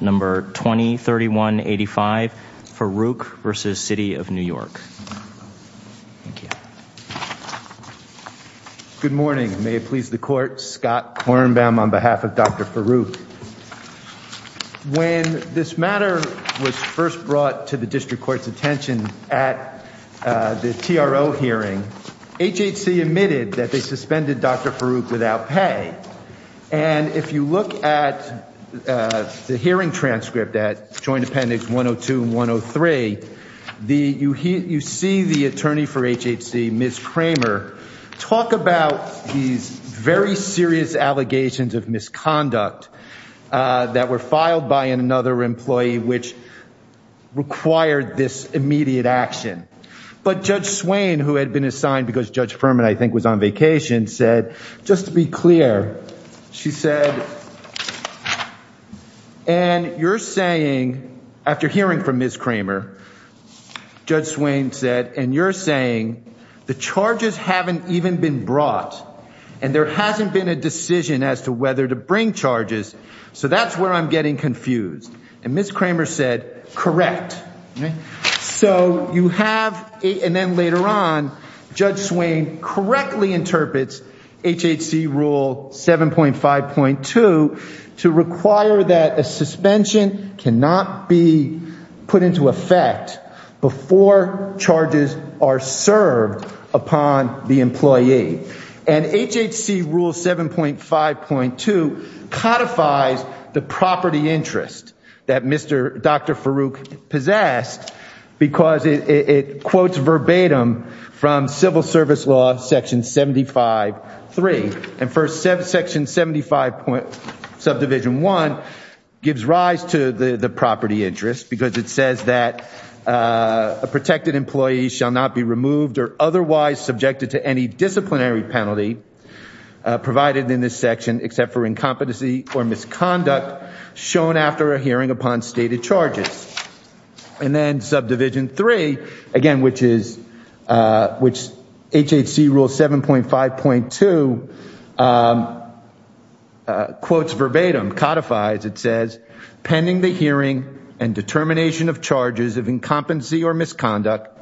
Good morning. May it please the court, Scott Kornbaum on behalf of Dr. Farooq. When this matter was first brought to the district court's attention at the TRO hearing, HHC admitted that they suspended Dr. Farooq without pay. And if you look at the hearing transcript at Joint Appendix 102 and 103, you see the attorney for HHC, Ms. Kramer, talk about these very serious allegations of misconduct that were filed by another employee which required this immediate action. But Judge Swain, who had been assigned because Judge Furman I think was on vacation, said, just to be clear, she said, and you're saying, after hearing from Ms. Kramer, Judge Swain said, and you're saying, the charges haven't even been brought and there hasn't been a decision as to whether to bring charges, so that's where I'm getting confused. And Ms. Kramer said, correct. So you have, and then later on, Judge Swain correctly interprets HHC Rule 7.5.2 to require that a suspension cannot be put into effect before charges are served upon the employee. And HHC Rule 7.5.2 codifies the property interest that Dr. Farooq possessed because it quotes verbatim from Civil Service Law Section 75.3. And first, Section 75.1 gives rise to the property interest because it says that a protected employee shall not be removed or otherwise subjected to any disciplinary penalty provided in this section except for incompetency or misconduct shown after a hearing upon stated charges. And then Subdivision 3, again, which is, which HHC Rule 7.5.2 quotes verbatim, codifies, it says, pending the hearing and determination of charges of incompetency or misconduct,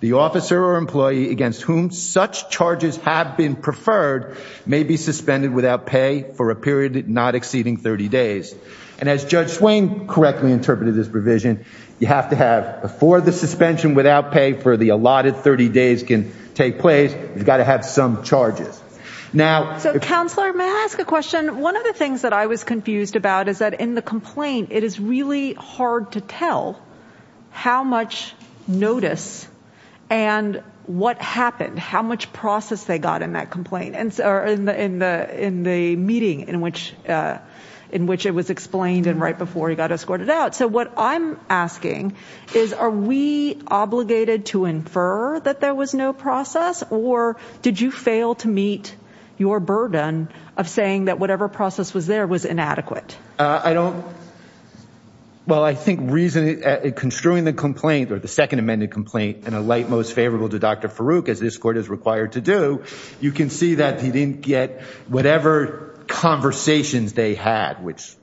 the officer or employee against whom such charges have been preferred may be suspended without pay for a period not exceeding 30 days. And as Judge Swain correctly interpreted this provision, you have to have, before the suspension without pay for the allotted 30 days can take place, you've got to have some charges. Now- So, Counselor, may I ask a question? One of the things that I was confused about is that in the complaint it is really hard to tell how much notice and what happened, how much process they got in that complaint or in the meeting in which it was explained and right before he got escorted out. So what I'm asking is are we obligated to infer that there was no process or did you fail to meet your burden of saying that whatever process was there was inadequate? I don't, well, I think reason, construing the complaint or the second amended complaint in a light most favorable to Dr. Farouk, as this court is required to do, you can see that he didn't get whatever conversations they had, which-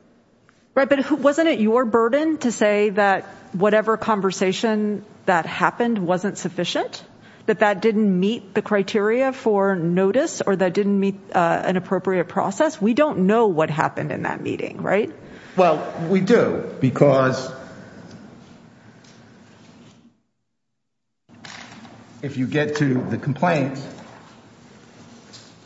Right, but wasn't it your burden to say that whatever conversation that happened wasn't sufficient? That that didn't meet the in that meeting, right? Well, we do because if you get to the complaint,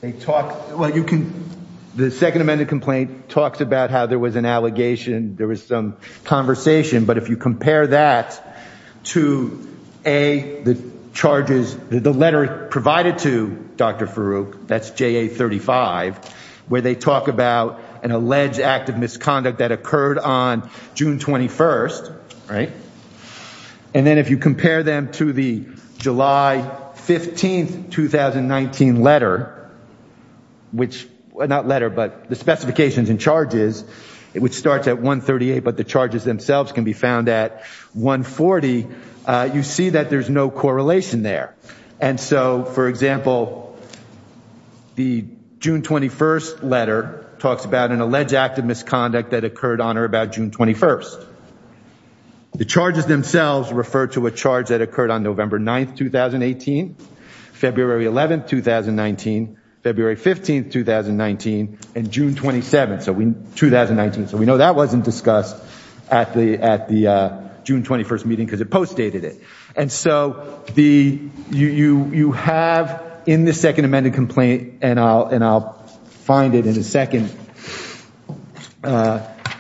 they talk, well, you can, the second amended complaint talks about how there was an allegation, there was some conversation, but if you compare that to A, the charges, the letter provided to Dr. Farouk, that's JA 35, where they talk about an alleged act of misconduct that occurred on June 21st, right? And then if you compare them to the July 15th, 2019 letter, which not letter, but the specifications and charges, it would start at 138, but the charges themselves can be found at 140. You see that there's no June 21st letter talks about an alleged act of misconduct that occurred on or about June 21st. The charges themselves refer to a charge that occurred on November 9th, 2018, February 11th, 2019, February 15th, 2019, and June 27th, 2019. So we know that wasn't discussed at the June 21st meeting because it post dated it. And so you have in the second amended complaint, and I'll find it in a second.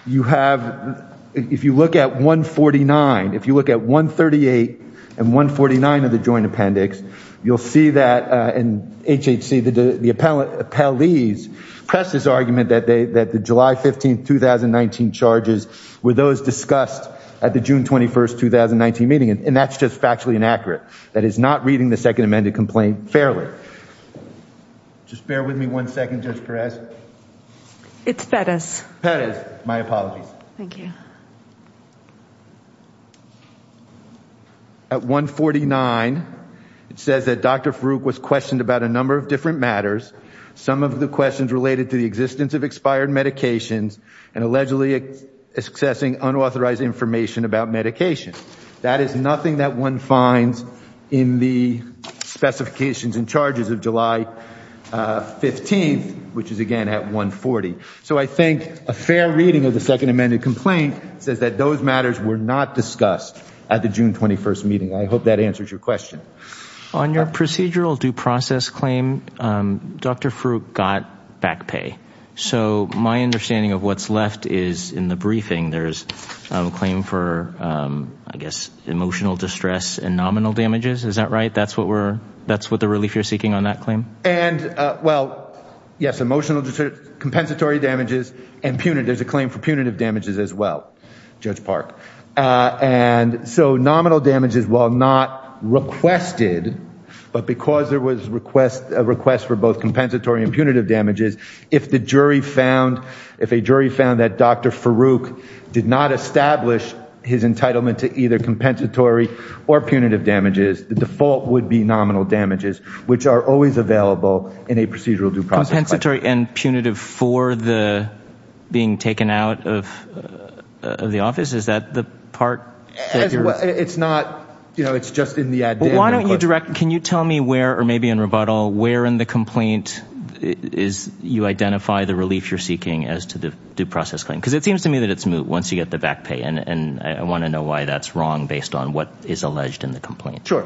You have, if you look at 149, if you look at 138 and 149 of the joint appendix, you'll see that in HHC, the appellees press this argument that the July 15th, 2019 charges were those discussed at the June 21st, 2019 meeting. And that's just factually inaccurate. That is not reading the second amended complaint fairly. Just bear with me one second, Judge Perez. It's Perez. Perez, my apologies. Thank you. At 149, it says that Dr. Farouk was questioned about a number of different matters. Some of the questions related to the existence of expired medications and allegedly accessing unauthorized information about medication. That is nothing that one finds in the specifications and charges of July 15th, which is again at 140. So I think a fair reading of the second amended complaint says that those matters were not discussed at the June 21st meeting. I hope that answers your question. On your procedural due process claim, Dr. Farouk got back pay. So my understanding of what's left is in the briefing, there's a claim for, I guess, emotional distress and nominal damages. Is that right? That's what we're, that's what the relief you're seeking on that claim? And well, yes, emotional distress, compensatory damages and punitive. There's a claim for punitive damages as well, Judge Park. And so nominal damages, while not requested, but because there was request, a request for both compensatory and punitive damages, if the jury found, if a jury found that Dr. Farouk did not establish his entitlement to either compensatory or punitive damages, the default would be nominal damages, which are always available in a procedural due process. Compensatory and punitive for the being taken out of the office. Is that the part that you're It's not, you know, it's just in the idea. Why don't you direct, can you tell me where, or maybe in rebuttal, where in the complaint is you identify the relief you're seeking as to the due process claim? Because it seems to me that it's moot once you get the back pay. And I want to know why that's wrong based on what is alleged in the complaint. Sure.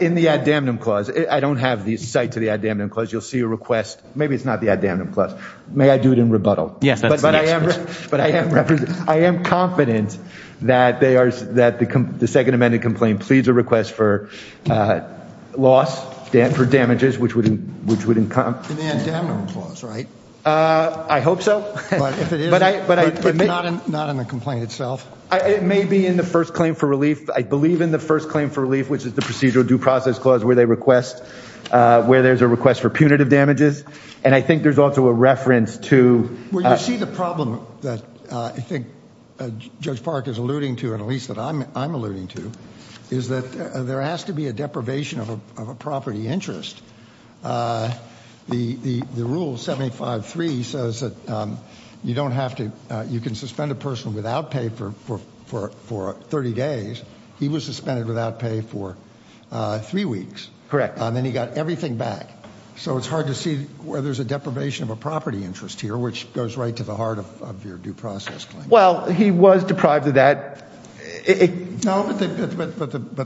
In the ad damnum clause, I don't have the site to the ad damnum clause. You'll see a request. Maybe it's not the ad damnum clause. May I do it in rebuttal? Yes, that's the next question. But I am confident that they are, that the second amended complaint pleads a request for loss, for damages, which would, which would encompass an ad damnum clause, right? I hope so. But if it is, but not in the complaint itself. It may be in the first claim for relief, I believe in the first claim for relief, which is the procedural due process clause where they request, where there's a request for punitive damages. And I think there's also a reference to where you see the problem that I think Judge Park is alluding to, at least that I'm alluding to, is that there has to be a deprivation of a property interest. The rule 75.3 says that you don't have to, you can suspend a person without pay for 30 days. He was suspended without pay for three weeks. Correct. And then he got everything back. So it's hard to see where there's a deprivation of a property interest here, which goes right to the heart of your due process claim. Well, he was deprived of that. No, but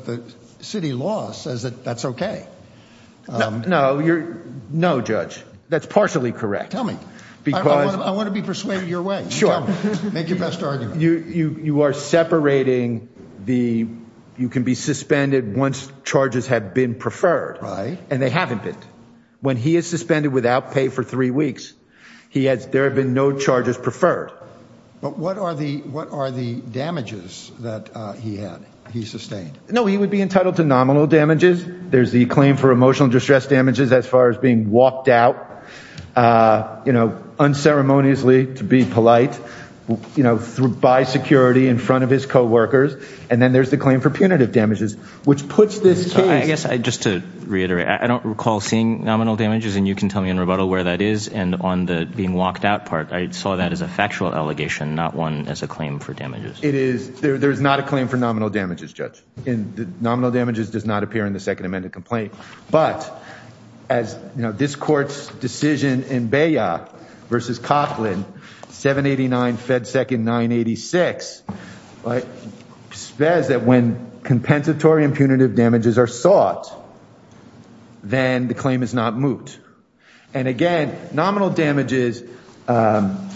the city law says that that's okay. No, you're no judge. That's partially correct. Tell me. I want to be persuaded your way. Make your best argument. You are separating the, you can be suspended once charges have been preferred. Right. And they haven't been. When he is suspended without pay for three weeks, there have been no charges preferred. But what are the, what are the damages that he had? He sustained? No, he would be entitled to nominal damages. There's the claim for emotional distress damages as far as being walked out, you know, unceremoniously to be polite, you know, through by security in front of his coworkers. And then there's the claim for punitive damages, which puts this case. I guess I just to reiterate, I don't recall seeing nominal damages and you can tell me in rebuttal where that is. And on the being walked out part, I saw that as a factual allegation, not one as a claim for damages. It is. There's not a claim for nominal damages judge in the nominal damages does not appear in the second amended complaint. But as you know, this court's decision in Baya versus Coughlin, 789 Fed second, 986, but says that when compensatory and punitive damages are sought, then the claim is not moot. And again, nominal damages, um,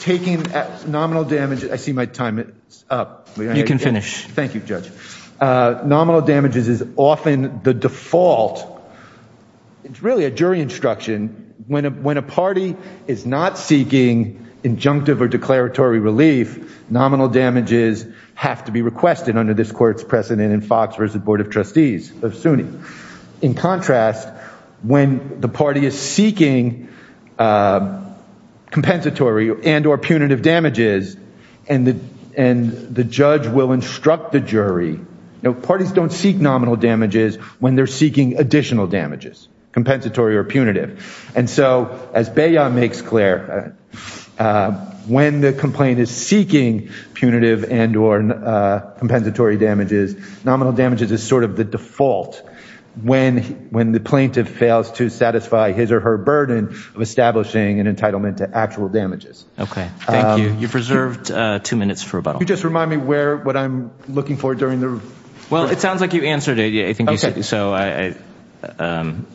taking nominal damage. I see my time. It's up. You can finish. Thank you, judge. Uh, nominal damages is often the default. It's really a jury instruction. When a, when a party is not seeking injunctive or declaratory relief, nominal damages have to be requested under this court's precedent in Fox versus the board of trustees of SUNY. In contrast, when the party is seeking, uh, compensatory and or punitive damages and the, and the judge will instruct the jury, no parties don't seek nominal damages when they're seeking additional damages, compensatory or punitive. And so as Bayon makes clear, uh, when the complaint is sought, nominal damages is sort of the default when, when the plaintiff fails to satisfy his or her burden of establishing an entitlement to actual damages. Okay. Thank you. You've reserved two minutes for rebuttal. Just remind me where, what I'm looking for during the, well, it sounds like you answered it. Yeah. I think you said, so I, um,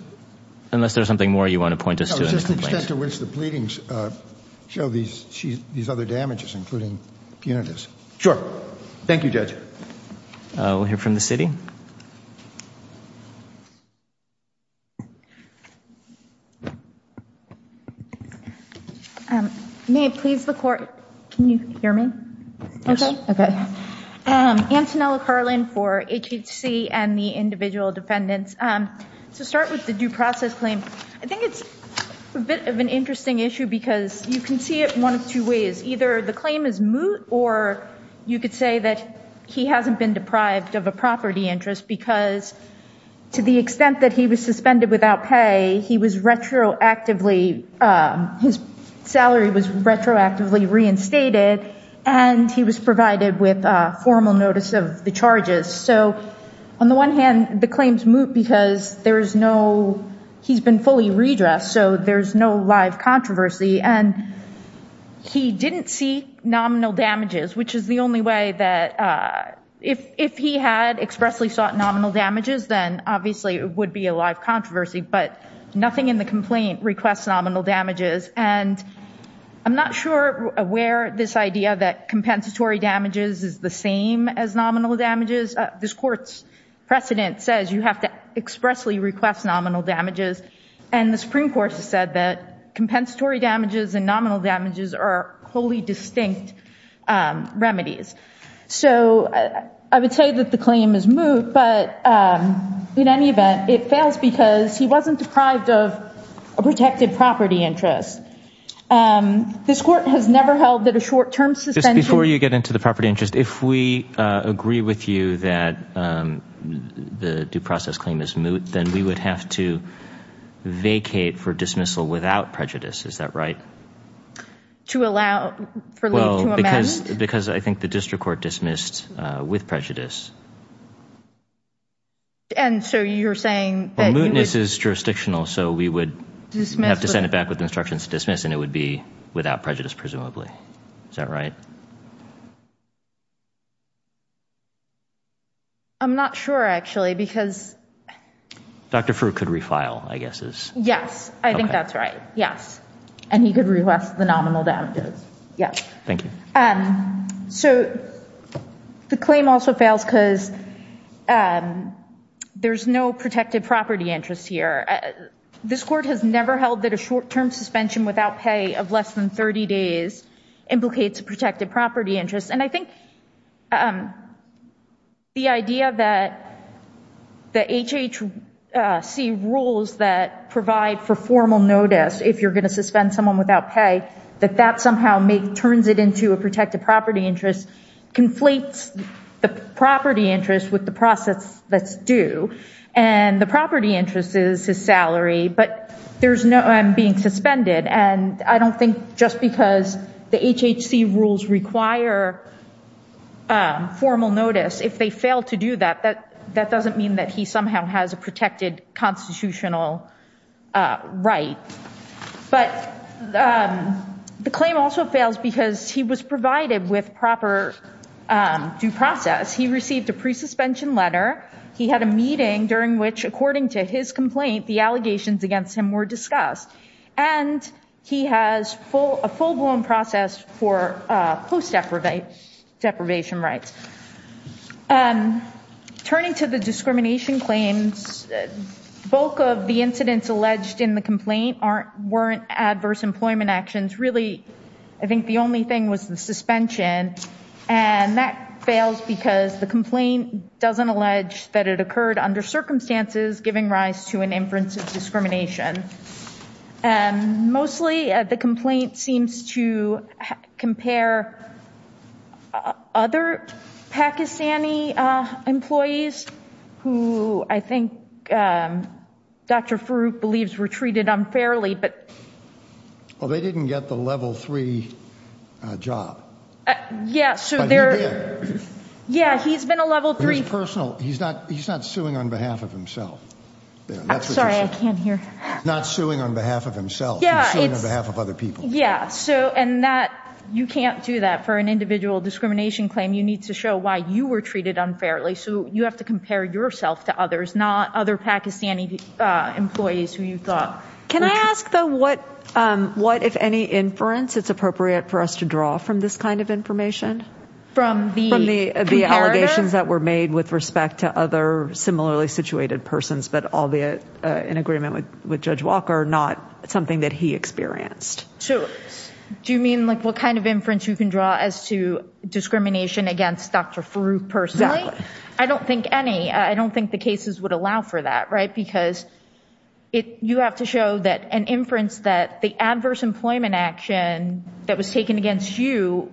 unless there's something more you want to point us to the extent to which the pleadings, uh, show these, these other damages, including punitives. Sure. Thank you, judge. Uh, we'll hear from the city. Um, may it please the court. Can you hear me? Okay. Okay. Um, Antonella Carlin for HHC and the individual defendants. Um, to start with the due process claim, I think it's a bit of an interesting issue because you can see it one of two ways. Either the claim is moot, or you could say that he hasn't been deprived of a property interest because to the extent that he was suspended without pay, he was retroactively, uh, his salary was retroactively reinstated and he was provided with a formal notice of the charges. So on the one hand, the so there's no live controversy and he didn't see nominal damages, which is the only way that, uh, if, if he had expressly sought nominal damages, then obviously it would be a live controversy, but nothing in the complaint requests nominal damages. And I'm not sure where this idea that compensatory damages is the same as nominal damages. This court's precedent says you have to expressly request nominal damages. And the Supreme Court has said that compensatory damages and nominal damages are wholly distinct, um, remedies. So I would say that the claim is moot, but, um, in any event, it fails because he wasn't deprived of a protected property interest. Um, this court has never held that a short-term suspension- If the due process claim is moot, then we would have to vacate for dismissal without prejudice. Is that right? To allow for leave to amend? Well, because, because I think the district court dismissed, uh, with prejudice. And so you're saying that- Well, mootness is jurisdictional, so we would have to send it back with instructions to dismiss and it would be without prejudice, presumably. Is that right? I'm not sure, actually, because- Dr. Frueh could refile, I guess is- Yes. I think that's right. Yes. And he could request the nominal damages. Yes. Thank you. Um, so the claim also fails because, um, there's no protected property interest here. This court has never held that a short-term suspension without pay of less than 30 days implicates a protected property interest. And I think, um, the idea that the HHC rules that provide for formal notice, if you're going to suspend someone without pay, that that somehow turns it into a protected property interest, conflates the property interest with the process that's due. And the property interest is his salary, but there's no- I'm being suspended. And I don't think just because the HHC rules require formal notice, if they fail to do that, that doesn't mean that he somehow has a protected constitutional right. But, um, the claim also fails because he was provided with proper due process. He received a pre-suspension letter. He had a meeting during which, according to his complaint, the allegations against him were discussed. And he has full- a full-blown process for, uh, post-deprivate deprivation rights. Um, turning to the discrimination claims, bulk of the incidents alleged in the complaint aren't- weren't adverse employment actions. Really, I think the only thing was the suspension. And that fails because the complaint doesn't allege that it occurred under circumstances, giving rise to an inference of discrimination. Um, mostly, uh, the complaint seems to compare other Pakistani, uh, employees, who I think, um, Dr. Farooq believes were treated unfairly, but- Well, they didn't get the level three, uh, job. Yeah, so they're- But he did. Yeah, he's been a level three- He's not- he's not suing on behalf of himself. I'm sorry, I can't hear. He's not suing on behalf of himself, he's suing on behalf of other people. Yeah, so, and that- you can't do that for an individual discrimination claim. You need to show why you were treated unfairly. So, you have to compare yourself to others, not other Pakistani, uh, employees who you thought- Can I ask, though, what, um, what, if any, inference it's appropriate for us to draw from this kind of information? From the- With respect to other similarly situated persons, but all the, uh, in agreement with- with Judge Walker, not something that he experienced. So, do you mean, like, what kind of inference you can draw as to discrimination against Dr. Farooq personally? Exactly. I don't think any, I don't think the cases would allow for that, right? Because it- you have to show that an inference that the adverse employment action that was taken against you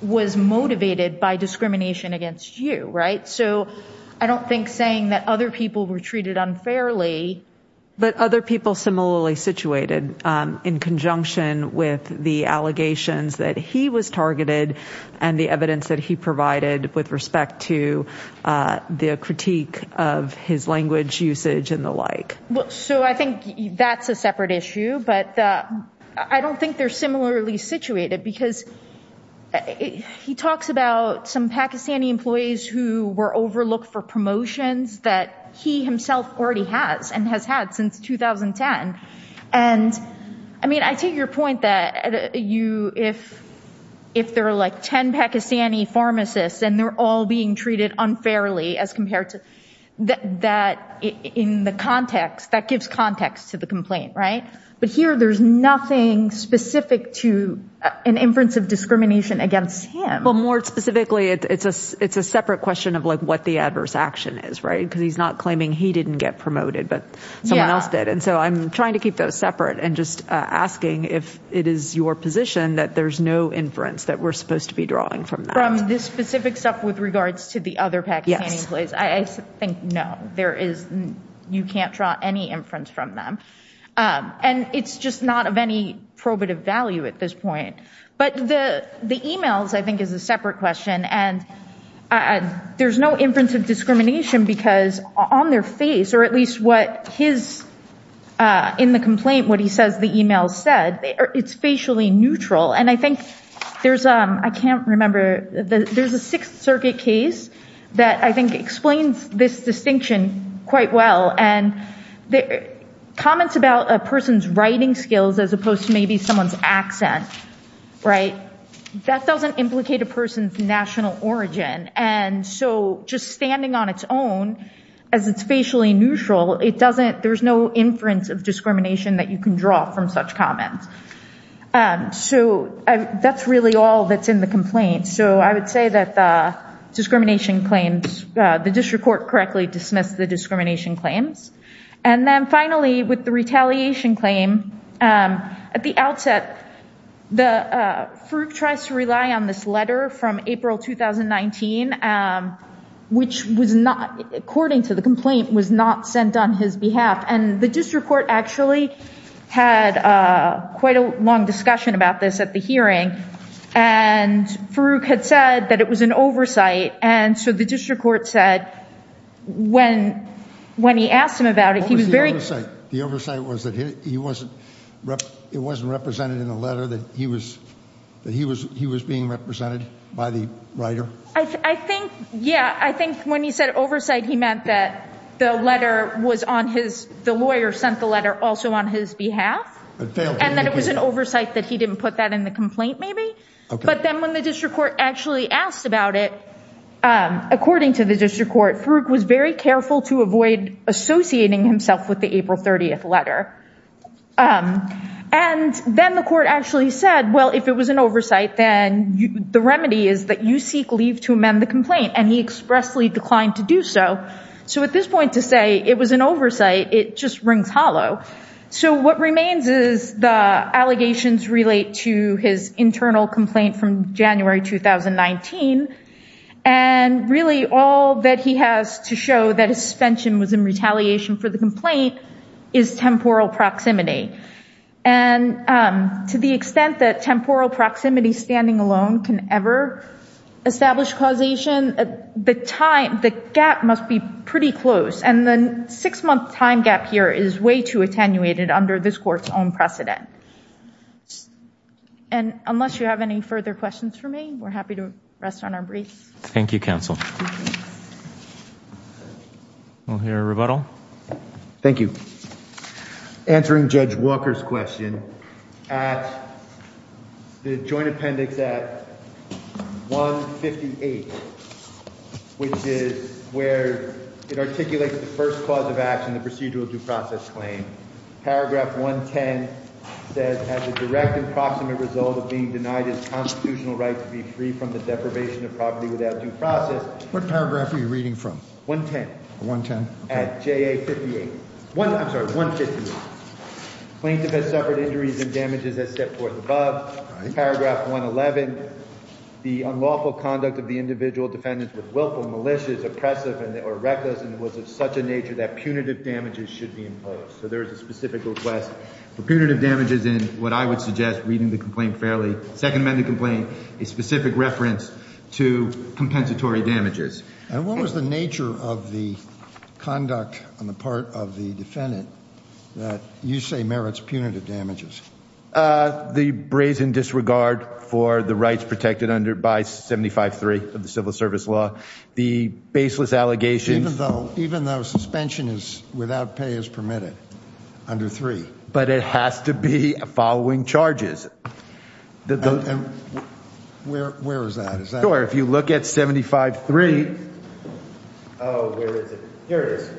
was motivated by discrimination against you, right? So, I don't think saying that other people were treated unfairly- But other people similarly situated, um, in conjunction with the allegations that he was targeted and the evidence that he provided with respect to, uh, the critique of his language usage and the like. Well, so, I think that's a separate issue, but, uh, I don't think they're similarly situated because he talks about some Pakistani employees who were overlooked for promotions that he himself already has and has had since 2010. And, I mean, I take your point that you- if- if there are, like, 10 Pakistani pharmacists and they're all being treated unfairly as compared to- that- that in the context, that gives context to the complaint, right? But here, there's nothing specific to an inference of discrimination against him. Well, more specifically, it's a- it's a separate question of, like, what the adverse action is, right? Because he's not claiming he didn't get promoted, but someone else did. And so, I'm trying to keep those separate and just, uh, asking if it is your position that there's no inference that we're supposed to be drawing from that. From this specific stuff with regards to the other Pakistani employees, I think no. There is- you can't draw any inference from them. And it's just not of any probative value at this point. But the- the emails, I think, is a separate question. And, uh, there's no inference of discrimination because on their face, or at least what his, uh, in the complaint, what he says the email said, it's facially neutral. And I think there's, um- I can't remember. There's a Sixth Circuit case that I think explains this distinction quite well. And the comments about a person's writing skills as opposed to maybe someone's accent, right, that doesn't implicate a person's national origin. And so, just standing on its own as it's facially neutral, it doesn't- there's no inference of discrimination that you can draw from such comments. Um, so, I- that's really all that's in the complaint. So, I would say that, uh, discrimination claims, uh, the district court correctly dismissed the And then finally, with the retaliation claim, um, at the outset, the, uh, Farouk tries to rely on this letter from April 2019, um, which was not- according to the complaint, was not sent on his behalf. And the district court actually had, uh, quite a long discussion about this at the hearing. And Farouk had said that it was an oversight. And so, the district court said when- when he asked him about it, he was very- What was the oversight? The oversight was that he- he wasn't- it wasn't represented in the letter that he was- that he was- he was being represented by the writer? I- I think, yeah, I think when he said oversight, he meant that the letter was on his- the lawyer sent the letter also on his behalf. And that it was an oversight that he didn't put that in the complaint, maybe. But then when the district court actually asked about it, um, according to the district court, Farouk was very careful to avoid associating himself with the April 30th letter. Um, and then the court actually said, well, if it was an oversight, then the remedy is that you seek leave to amend the complaint. And he expressly declined to do so. So at this point to say it was an oversight, it just rings hollow. So what remains is the allegations relate to his internal complaint from January 2019. And really all that he has to show that his suspension was in retaliation for the complaint is temporal proximity. And, um, to the extent that temporal proximity standing alone can ever establish causation, the time- the gap must be pretty close. And the six-month time gap here is way too attenuated under this court's own precedent. And unless you have any further questions for me, we're happy to rest on our briefs. Thank you, counsel. We'll hear a rebuttal. Thank you. Answering Judge Walker's question, at the joint appendix at 158, which is where it articulates the first cause of action, the procedural due process claim. Paragraph 110 says, as a direct and proximate result of being denied his constitutional right to be free from the deprivation of property without due process. What paragraph are you reading from? 110. 110? At JA 58. One, I'm sorry, 158. Plaintiff has suffered injuries and damages as set forth above. Paragraph 111, the unlawful conduct of the individual defendants with willful malicious, oppressive, or reckless, and was of such a nature that punitive damages should be imposed. So there is a specific request for punitive damages in what I would suggest reading the complaint fairly, second amendment complaint, a specific reference to compensatory damages. And what was the nature of the conduct on the part of the defendant that you say merits punitive damages? Uh, the brazen disregard for the rights protected under, by 75.3 of the civil service law, the baseless allegations. Even though, even though suspension is without pay is permitted under three. But it has to be following charges. Where, where is that? Sure, if you look at 75.3. Oh, where is it? Here it is.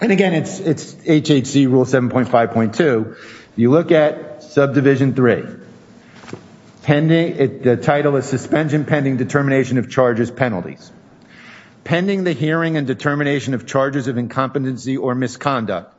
And again, it's, it's HHC rule 7.5.2. You look at subdivision three. Pending, the title is suspension pending determination of charges penalties. Pending the hearing and determination of charges of incompetency or misconduct,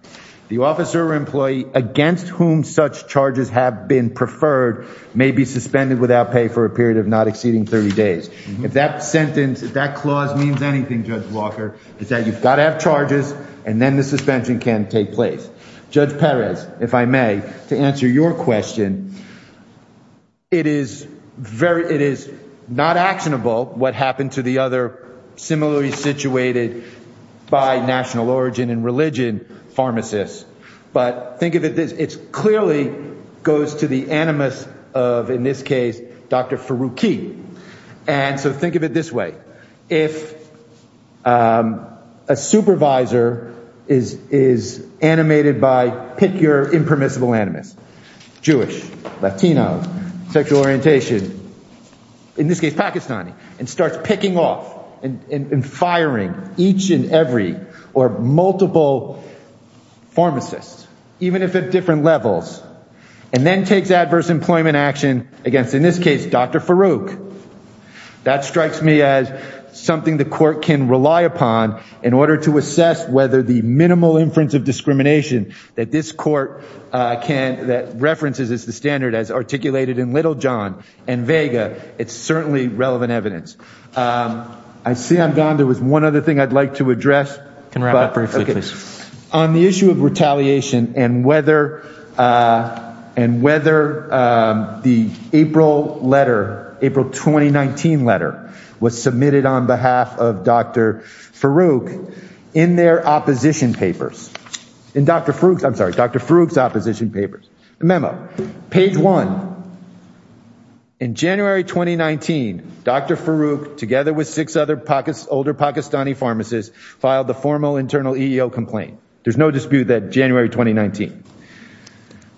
the officer or employee against whom such charges have been preferred may be suspended without pay for a period of not exceeding 30 days. If that sentence, if that clause means anything, Judge Walker, is that you've got to have charges and then the suspension can take place. Judge Perez, if I may, to answer your question. It is very, it is not actionable what happened to the other similarly situated by national origin and religion pharmacists. But think of it this, it's clearly goes to the animus of, in this case, Dr. Faruqi. And so think of it this way. If a supervisor is animated by pick your impermissible animus, Jewish, Latino, sexual orientation, in this case, Pakistani, and starts picking off and firing each and every or multiple pharmacists, even if at different levels, and then takes adverse employment action against, in this case, Dr. Faruqi. That strikes me as something the court can rely upon in order to assess whether the minimal inference of discrimination that this court can, that references as the standard as articulated in Little John and Vega, it's certainly relevant evidence. I see I'm gone. There was one other thing I'd like to address. Can we wrap up briefly, please? On the issue of retaliation and whether the April letter, April 2019 letter, was submitted on behalf of Dr. Faruqi in their opposition papers. In Dr. Faruqi's, I'm sorry, Dr. Faruqi's opposition papers. The memo, page one. In January 2019, Dr. Faruqi, together with six other older Pakistani pharmacists, filed the formal internal EEO complaint. There's no dispute that January 2019.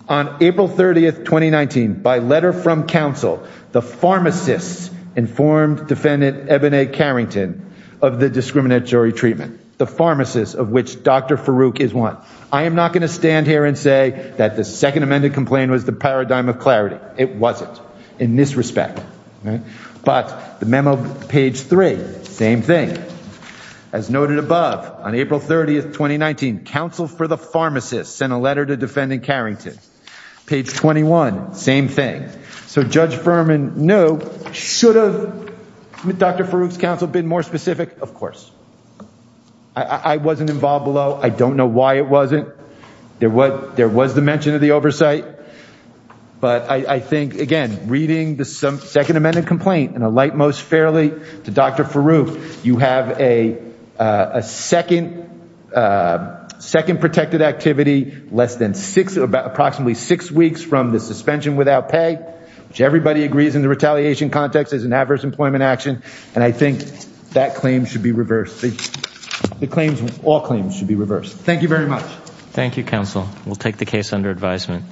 On April 30th, 2019, by letter from counsel, the pharmacists informed defendant, Eboni Carrington, of the discriminatory treatment. The pharmacists of which Dr. Faruqi is one. I am not going to stand here and say that the second amended complaint was the paradigm of clarity. It wasn't, in this respect. But the memo, page three, same thing. As noted above, on April 30th, 2019, counsel for the pharmacists sent a letter to defendant Carrington. Page 21, same thing. So Judge Furman knew, should have Dr. Faruqi's counsel been more specific? Of course. I wasn't involved below. I don't know why it wasn't. There was the mention of the oversight. But I think, again, reading the second amended complaint in a light, most fairly to Dr. Faruqi, you have a second protected activity, less than six, approximately six weeks from the suspension without pay, which everybody agrees in the retaliation context is an adverse employment action. And I think that claim should be reversed. The claims, all claims should be reversed. Thank you very much. Thank you, counsel. We'll take the case under advisement.